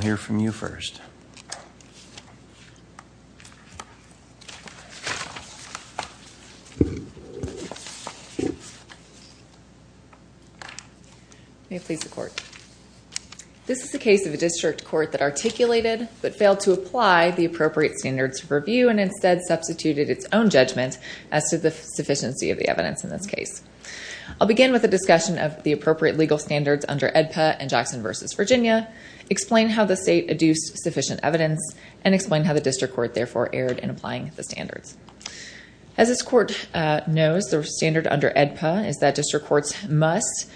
This is a case of a district court that articulated, but failed to apply, the appropriate standards of review and instead substituted its own judgment as to the sufficiency of the evidence in this case. I'll begin with a discussion of the appropriate legal standards under AEDPA and Jackson v. Virginia. Explain how the state adduced sufficient evidence and explain how the district court therefore erred in applying the standards. As this court knows, the standard under AEDPA is that district courts must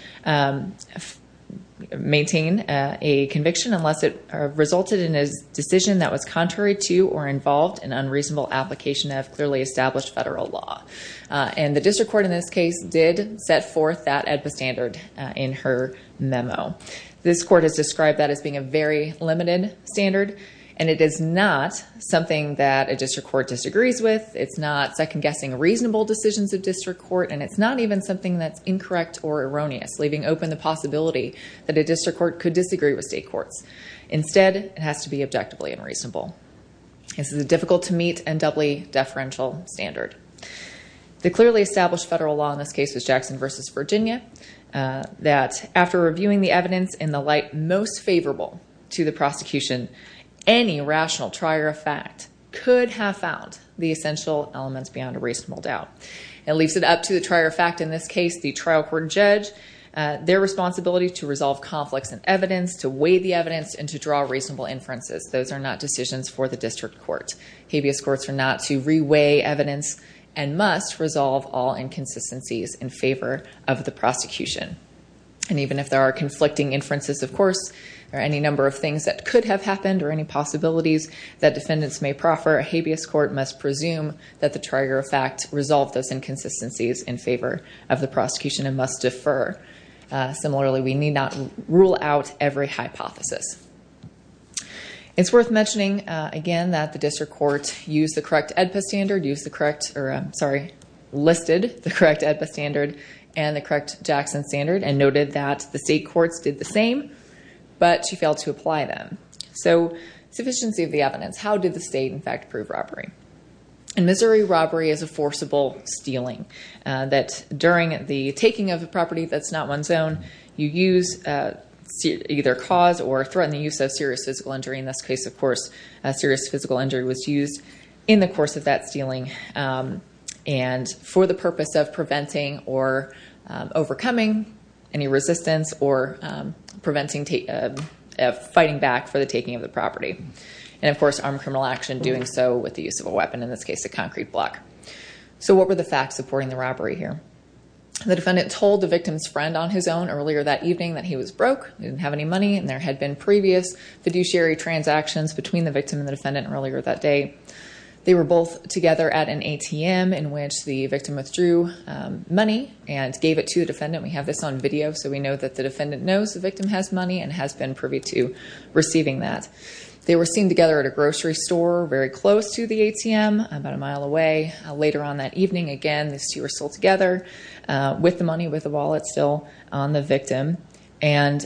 maintain a conviction unless it resulted in a decision that was contrary to or involved in unreasonable application of clearly established federal law. And the district court in this case did set forth that AEDPA standard in her memo. This court has described that as being a very limited standard and it is not something that a district court disagrees with. It's not second-guessing reasonable decisions of district court and it's not even something that's incorrect or erroneous, leaving open the possibility that a district court could disagree with state courts. Instead it has to be objectively unreasonable. This is a difficult to meet and doubly deferential standard. The clearly established federal law in this case was Jackson v. Virginia. That after reviewing the evidence in the light most favorable to the prosecution, any rational trier of fact could have found the essential elements beyond a reasonable doubt. It leaves it up to the trier of fact in this case, the trial court judge, their responsibility to resolve conflicts in evidence, to weigh the evidence, and to draw reasonable inferences. Those are not decisions for the district court. Habeas courts are not to re-weigh evidence and must resolve all inconsistencies in favor of the prosecution. Even if there are conflicting inferences, of course, or any number of things that could have happened or any possibilities that defendants may proffer, a habeas court must presume that the trier of fact resolved those inconsistencies in favor of the prosecution and must defer. Similarly, we need not rule out every hypothesis. It's worth mentioning again that the district court used the correct AEDPA standard, used the correct Jackson standard, and noted that the state courts did the same, but she failed to apply them. So, sufficiency of the evidence. How did the state, in fact, prove robbery? In Missouri, robbery is a forcible stealing, that during the taking of a property that's not one's own, you use either cause or threaten the use of serious physical injury. In this case, of course, a serious physical injury was used in the course of that stealing. And for the purpose of preventing or overcoming any resistance or fighting back for the taking of the property. And, of course, armed criminal action, doing so with the use of a weapon, in this case, a concrete block. So, what were the facts supporting the robbery here? The defendant told the victim's friend on his own earlier that evening that he was broke, he didn't have any money, and there had been previous fiduciary transactions between the victim and the defendant earlier that day. They were both together at an ATM in which the victim withdrew money and gave it to the defendant. We have this on video, so we know that the defendant knows the victim has money and has been privy to receiving that. They were seen together at a grocery store very close to the ATM, about a mile away. Later on that evening, again, these two were still together with the money, with the wallet still on the victim. And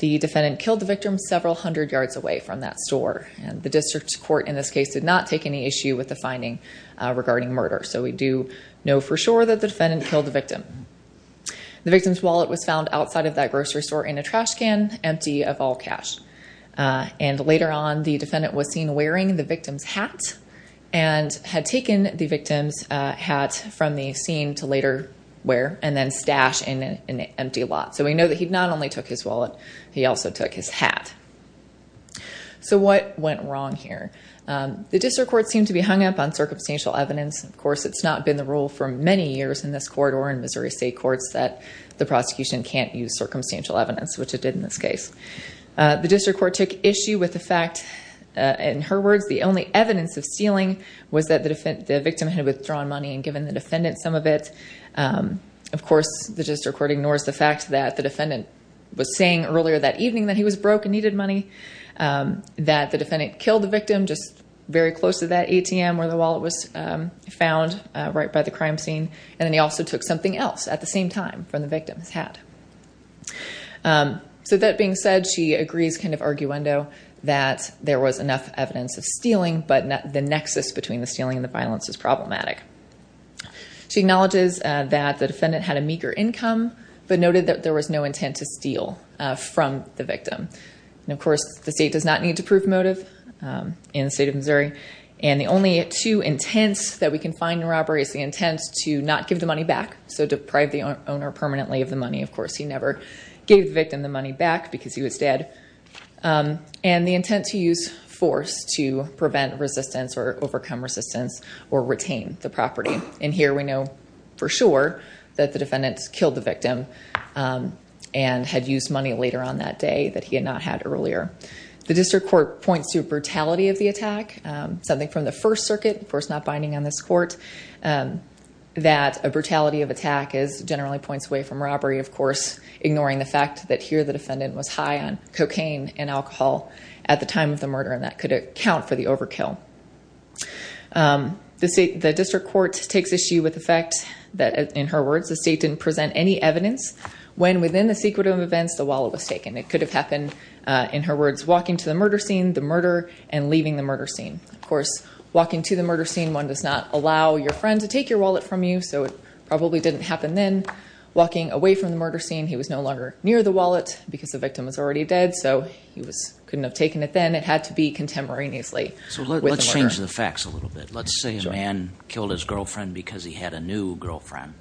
the defendant killed the victim several hundred yards away from that store. The district court, in this case, did not take any issue with the finding regarding murder. So, we do know for sure that the defendant killed the victim. The victim's wallet was found outside of that grocery store in a trash can, empty of all cash. And, later on, the defendant was seen wearing the victim's hat and had taken the victim's hat from the scene to later wear and then stashed in an empty lot. So, we know that he not only took his wallet, he also took his hat. So, what went wrong here? The district court seemed to be hung up on circumstantial evidence. Of course, it's not been the rule for many years in this court or in Missouri State courts that the prosecution can't use circumstantial evidence, which it did in this case. The district court took issue with the fact, in her words, the only evidence of stealing was that the victim had withdrawn money and given the defendant some of it. Of course, the district court ignores the fact that the defendant was saying earlier that evening that he was broke and needed money, that the defendant killed the victim just very close to that ATM where the wallet was found, right by the crime scene, and then he also took something else at the same time from the victim's hat. So, that being said, she agrees, kind of arguendo, that there was enough evidence of stealing, but the nexus between the stealing and the violence is problematic. She acknowledges that the defendant had a meager income, but noted that there was no intent to steal from the victim. Of course, the state does not need to prove motive in the state of Missouri, and the only two intents that we can find in robbery is the intent to not give the money back, so deprive the owner permanently of the money. Of course, he never gave the victim the money back because he was dead, and the intent to use force to prevent resistance or overcome resistance or retain the property. In here, we know for sure that the defendant killed the victim and had used money later on that day that he had not had earlier. The district court points to brutality of the attack, something from the First Circuit, of course, not binding on this court, that a brutality of attack generally points away from robbery, of course, ignoring the fact that here the defendant was high on cocaine and alcohol at the time of the murder, and that could account for the overkill. The district court takes issue with the fact that, in her words, the state didn't present any evidence when, within the secret of events, the wallet was taken. It could have happened, in her words, walking to the murder scene, the murder, and leaving the murder scene. Of course, walking to the murder scene, one does not allow your friend to take your wallet from you, so it probably didn't happen then. Walking away from the murder scene, he was no longer near the wallet because the victim was already dead, so he couldn't have taken it then. And it had to be contemporaneously with the murder. Let's change the facts a little bit. Let's say a man killed his girlfriend because he had a new girlfriend,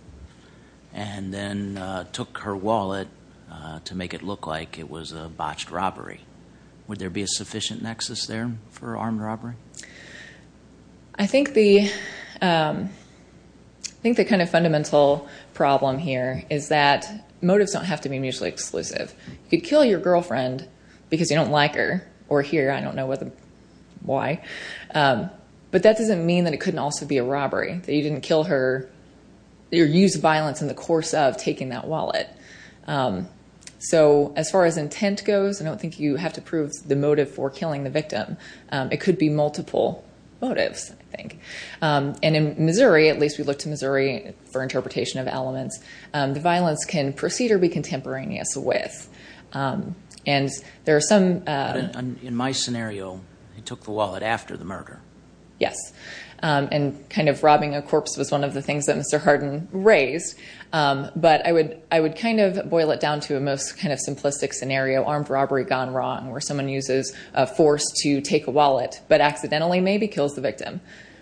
and then took her wallet to make it look like it was a botched robbery. Would there be a sufficient nexus there for armed robbery? I think the kind of fundamental problem here is that motives don't have to be mutually exclusive. You could kill your girlfriend because you don't like her, or here, I don't know why, but that doesn't mean that it couldn't also be a robbery, that you didn't use violence in the course of taking that wallet. So as far as intent goes, I don't think you have to prove the motive for killing the victim. It could be multiple motives, I think. And in Missouri, at least we looked at Missouri for interpretation of elements, the violence can proceed or be contemporaneous with. And there are some... In my scenario, he took the wallet after the murder. Yes. And kind of robbing a corpse was one of the things that Mr. Hardin raised. But I would kind of boil it down to a most kind of simplistic scenario, armed robbery gone wrong, where someone uses force to take a wallet, but accidentally maybe kills the victim.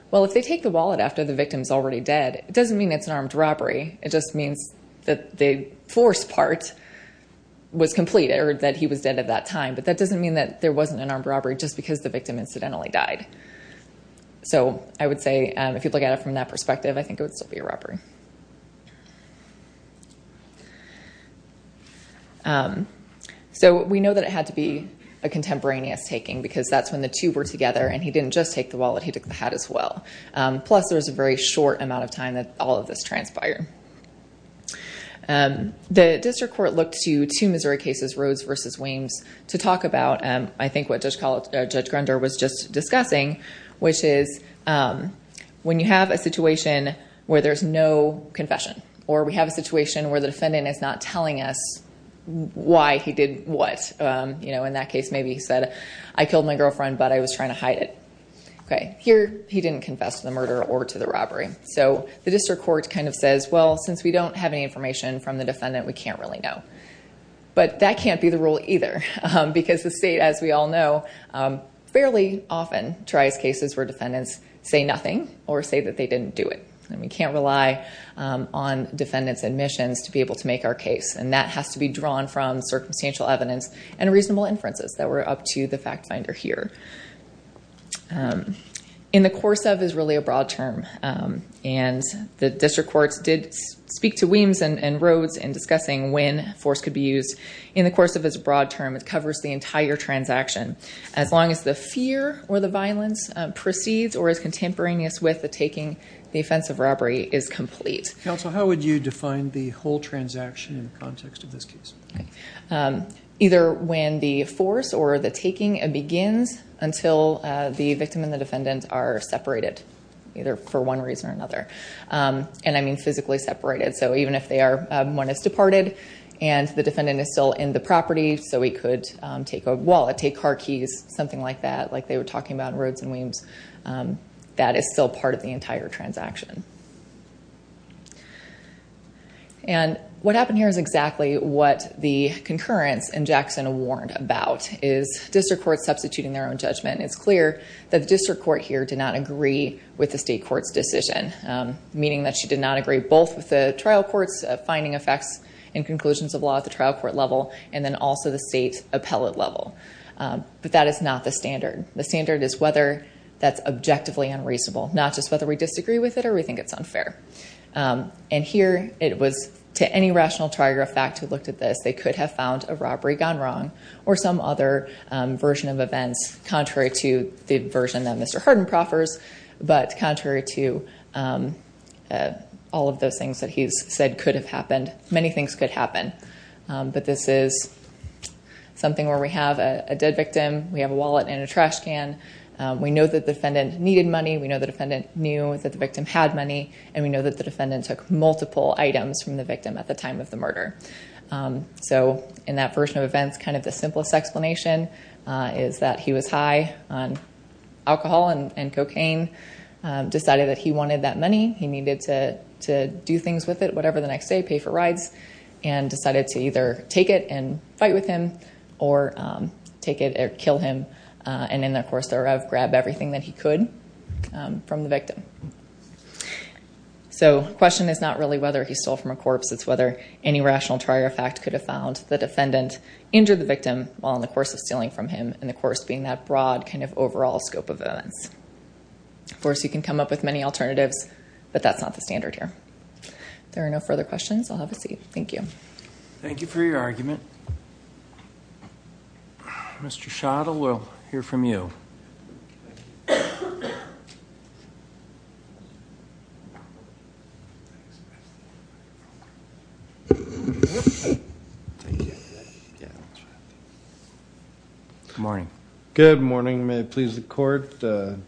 Well, if they take the wallet after the victim's already dead, it doesn't mean it's an armed robbery. It just means that the force part was completed, or that he was dead at that time. But that doesn't mean that there wasn't an armed robbery just because the victim incidentally died. So I would say, if you look at it from that perspective, I think it would still be a robbery. So we know that it had to be a contemporaneous taking, because that's when the two were together and he didn't just take the wallet, he took the hat as well. Plus, there was a very short amount of time that all of this transpired. The district court looked to two Missouri cases, Rhodes versus Weems, to talk about I think what Judge Grunder was just discussing, which is when you have a situation where there's no confession, or we have a situation where the defendant is not telling us why he did what. In that case, maybe he said, I killed my girlfriend, but I was trying to hide it. Here, he didn't confess to the murder or to the robbery. So the district court kind of says, well, since we don't have any information from the defendant, we can't really know. But that can't be the rule either, because the state, as we all know, fairly often tries cases where defendants say nothing or say that they didn't do it. And we can't rely on defendants' admissions to be able to make our case, and that has to be drawn from circumstantial evidence and reasonable inferences that were up to the In the course of is really a broad term, and the district courts did speak to Weems and Rhodes in discussing when force could be used. In the course of is a broad term, it covers the entire transaction. As long as the fear or the violence proceeds or is contemporaneous with the taking, the offense of robbery is complete. Counsel, how would you define the whole transaction in the context of this case? Either when the force or the taking begins until the victim and the defendant are separated, either for one reason or another. And I mean physically separated. So even if one has departed and the defendant is still in the property, so he could take a wallet, take car keys, something like that, like they were talking about in Rhodes and Weems, that is still part of the entire transaction. And what happened here is exactly what the concurrence in Jackson warned about, is district courts substituting their own judgment. It's clear that the district court here did not agree with the state court's decision, meaning that she did not agree both with the trial court's finding effects and conclusions of law at the trial court level and then also the state appellate level. But that is not the standard. The standard is whether that's objectively unreasonable, not just whether we disagree with it or we think it's unfair. And here it was to any rational trigger effect who looked at this, they could have found a robbery gone wrong or some other version of events contrary to the version that Mr. Hardin proffers, but contrary to all of those things that he's said could have happened. Many things could happen. But this is something where we have a dead victim, we have a wallet and a trash can, we know that the defendant needed money, we know the defendant knew that the victim had money and we know that the defendant took multiple items from the victim at the time of the murder. So in that version of events, kind of the simplest explanation is that he was high on alcohol and cocaine, decided that he wanted that money, he needed to do things with it, whatever the next day, pay for rides, and decided to either take it and fight with him or take it and kill him and in that course, grab everything that he could from the victim. So the question is not really whether he stole from a corpse, it's whether any rational trigger effect could have found the defendant injured the victim while in the course of stealing from him and the course being that broad kind of overall scope of events. Of course, you can come up with many alternatives, but that's not the standard here. There are no further questions. I'll have a seat. Thank you. Thank you for your argument. Mr. Schottel, we'll hear from you. Good morning. Good morning. May it please the court, James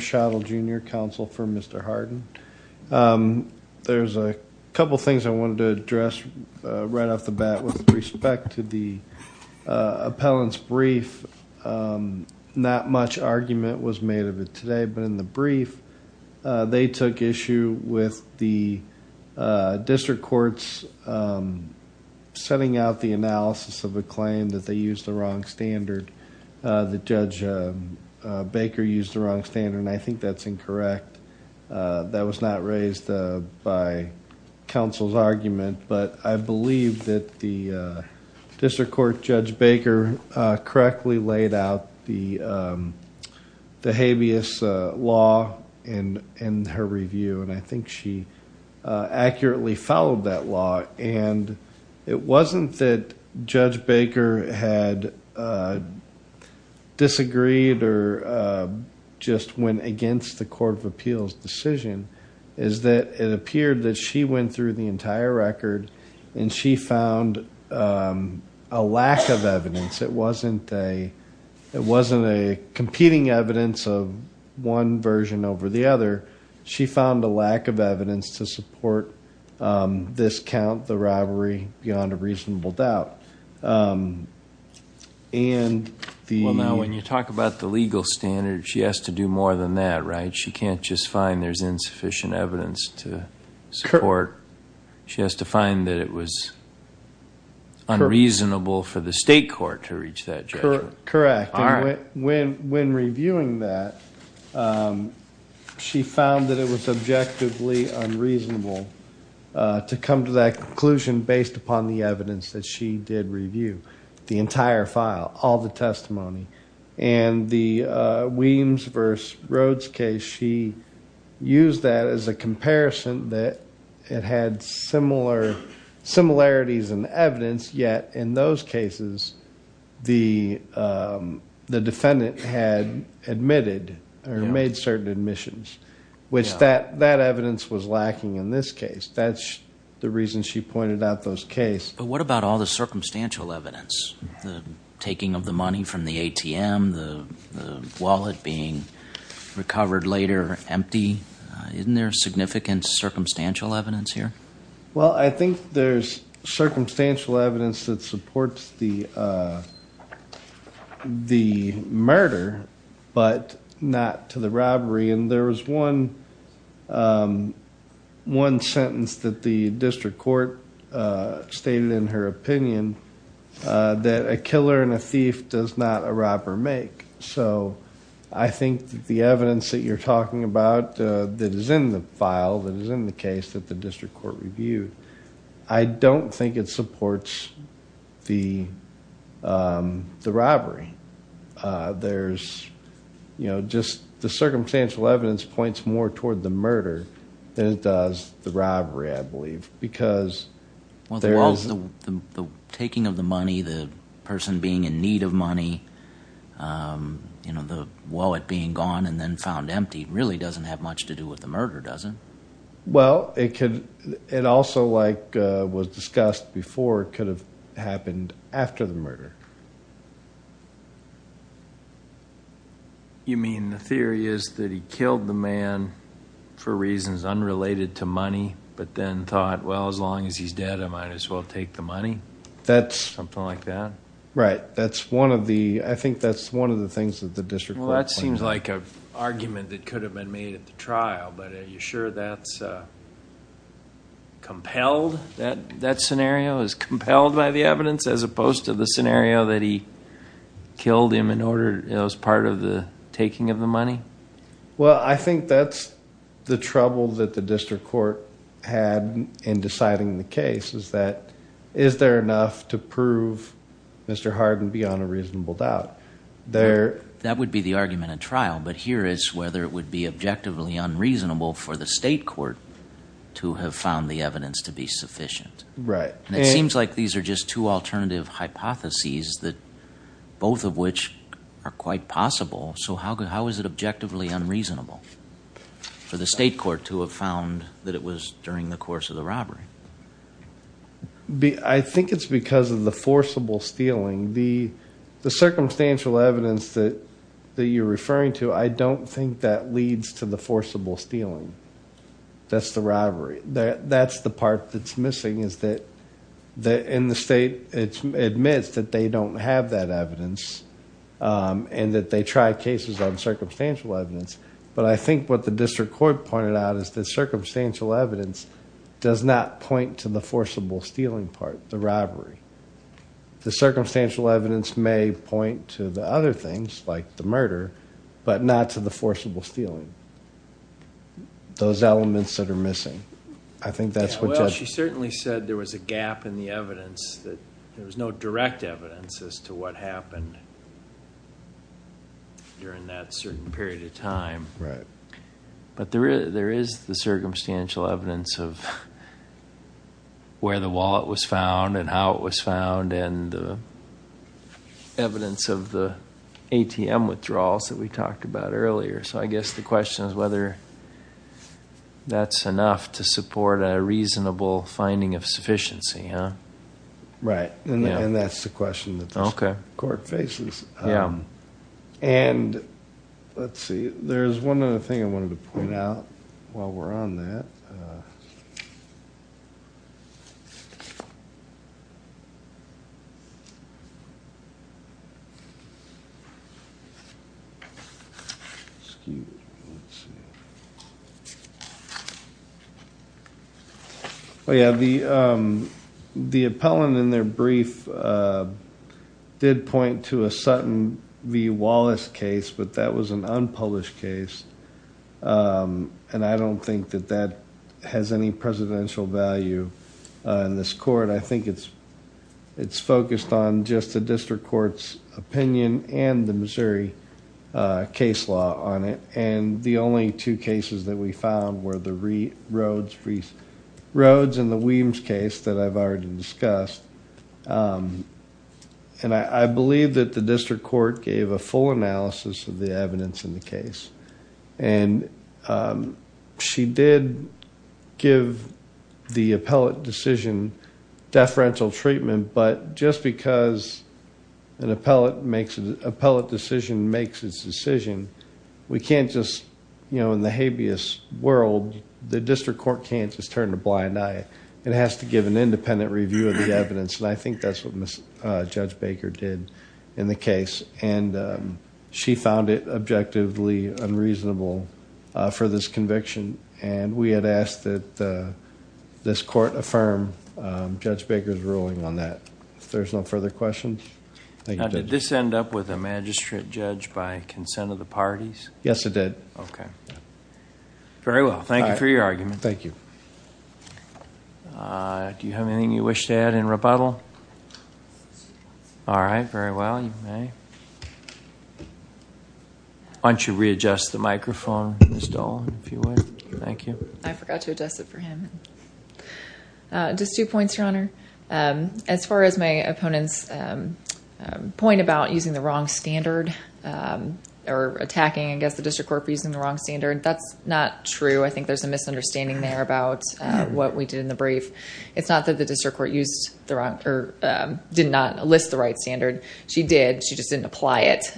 Schottel, Jr., counsel for Mr. Hardin. There's a couple of things I wanted to address right off the bat with respect to the appellant's brief. Not much argument was made of it today, but in the brief, they took issue with the district courts setting out the analysis of a claim that they used the wrong standard. The judge Baker used the wrong standard and I think that's incorrect. That was not raised by counsel's argument, but I believe that the district court judge Baker correctly laid out the habeas law in her review and I think she accurately followed that law. It wasn't that Judge Baker had disagreed or just went against the court of appeals decision, is that it appeared that she went through the entire record and she found a lack of evidence. It wasn't a competing evidence of one version over the other. She found a lack of evidence to support this count, the robbery, beyond a reasonable doubt. Now, when you talk about the legal standard, she has to do more than that, right? She can't just find there's insufficient evidence to support. She has to find that it was unreasonable for the state court to reach that judgment. Correct. When reviewing that, she found that it was objectively unreasonable to come to that conclusion based upon the evidence that she did review, the entire file, all the testimony. The Williams v. Rhodes case, she used that as a comparison that it had similarities and evidence, yet in those cases, the defendant had admitted or made certain admissions, which that evidence was lacking in this case. That's the reason she pointed out those cases. What about all the circumstantial evidence? The taking of the money from the ATM, the wallet being recovered later, empty. Isn't there significant circumstantial evidence here? Well, I think there's circumstantial evidence that supports the murder, but not to the robbery. There was one sentence that the district court stated in her opinion, that a killer and a thief does not a robber make. I think that the evidence that you're talking about that is in the file, that is in the district court review, I don't think it supports the robbery. The circumstantial evidence points more toward the murder than it does the robbery, I believe, because there is... Well, the wallet, the taking of the money, the person being in need of money, the wallet being gone and then found empty, really doesn't have much to do with the murder, does it? Well, it could... it also, like was discussed before, could have happened after the murder. You mean the theory is that he killed the man for reasons unrelated to money, but then thought, well, as long as he's dead, I might as well take the money? That's... Something like that? Right. That's one of the... I think that's one of the things that the district court... That seems like an argument that could have been made at the trial, but are you sure that's compelled, that scenario is compelled by the evidence as opposed to the scenario that he killed him in order... as part of the taking of the money? Well, I think that's the trouble that the district court had in deciding the case is that, is there enough to prove Mr. Harden beyond a reasonable doubt? There... That would be the argument at trial, but here is whether it would be objectively unreasonable for the state court to have found the evidence to be sufficient. Right. And it seems like these are just two alternative hypotheses that both of which are quite possible, so how is it objectively unreasonable for the state court to have found that it was during the course of the robbery? I think it's because of the forcible stealing. The circumstantial evidence that you're referring to, I don't think that leads to the forcible stealing. That's the robbery. That's the part that's missing is that in the state, it admits that they don't have that evidence and that they tried cases on circumstantial evidence, but I think what the district court pointed out is that circumstantial evidence does not point to the forcible stealing part, the robbery. The circumstantial evidence may point to the other things like the murder, but not to the forcible stealing, those elements that are missing. I think that's what just... Well, she certainly said there was a gap in the evidence, that there was no direct evidence as to what happened during that certain period of time, but there is the circumstantial evidence of where the wallet was found and how it was found and evidence of the ATM withdrawals that we talked about earlier, so I guess the question is whether that's enough to support a reasonable finding of sufficiency, huh? Right, and that's the question that the court faces. And let's see, there's one other thing I wanted to point out while we're on that. Excuse me, let's see. Yeah, the appellant in their brief did point to a Sutton v. Wallace case, but that was it's focused on just the district court's opinion and the Missouri case law on it, and the only two cases that we found were the Rhodes v. Weems case that I've already discussed. I believe that the district court gave a full analysis of the evidence in the case, and she did give the appellate decision deferential treatment, but just because an appellate decision makes its decision, we can't just, in the habeas world, the district court can't just turn a blind eye. It has to give an independent review of the evidence, and I think that's what Judge Baker did in the case, and she found it objectively unreasonable for this conviction, and we had asked that this court affirm Judge Baker's ruling on that. If there's no further questions, thank you, Judge. Now, did this end up with a magistrate judge by consent of the parties? Yes, it did. Okay. Very well, thank you for your argument. Thank you. Do you have anything you wish to add in rebuttal? All right, very well, you may. Why don't you readjust the microphone, Ms. Dolan, if you would. Thank you. I forgot to adjust it for him. Just two points, Your Honor. As far as my opponent's point about using the wrong standard or attacking, I guess, the district court for using the wrong standard, that's not true. I think there's a misunderstanding there about what we did in the brief. It's not that the district court did not list the right standard. She did, she just didn't apply it,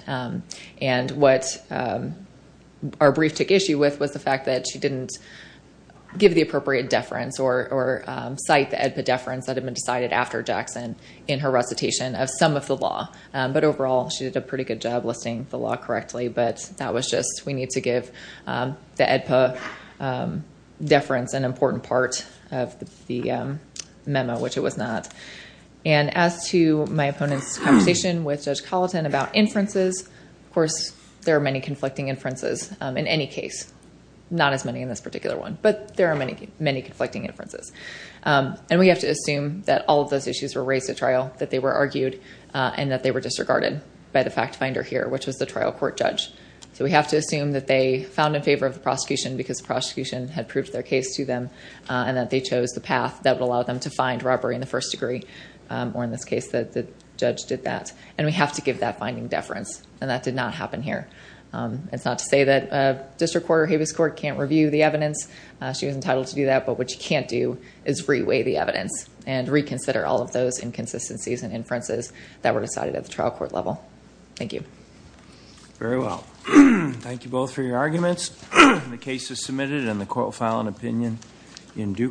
and what our brief took issue with was the fact that she didn't give the appropriate deference or cite the EDPA deference that had been decided after Jackson in her recitation of some of the law, but overall, she did a pretty good job listing the law correctly, but that was just, we need to give the EDPA deference an the memo, which it was not. As to my opponent's conversation with Judge Colleton about inferences, of course, there are many conflicting inferences in any case. Not as many in this particular one, but there are many conflicting inferences. We have to assume that all of those issues were raised at trial, that they were argued, and that they were disregarded by the fact finder here, which was the trial court judge. We have to assume that they found in favor of the prosecution because the prosecution had proved their case to them, and that they chose the path that would allow them to find robbery in the first degree, or in this case, that the judge did that, and we have to give that finding deference, and that did not happen here. It's not to say that a district court or habeas court can't review the evidence. She was entitled to do that, but what you can't do is reweigh the evidence and reconsider all of those inconsistencies and inferences that were decided at the trial court level. Thank you. Very well. Thank you both for your arguments. The case is submitted, and the court will file an opinion in due course.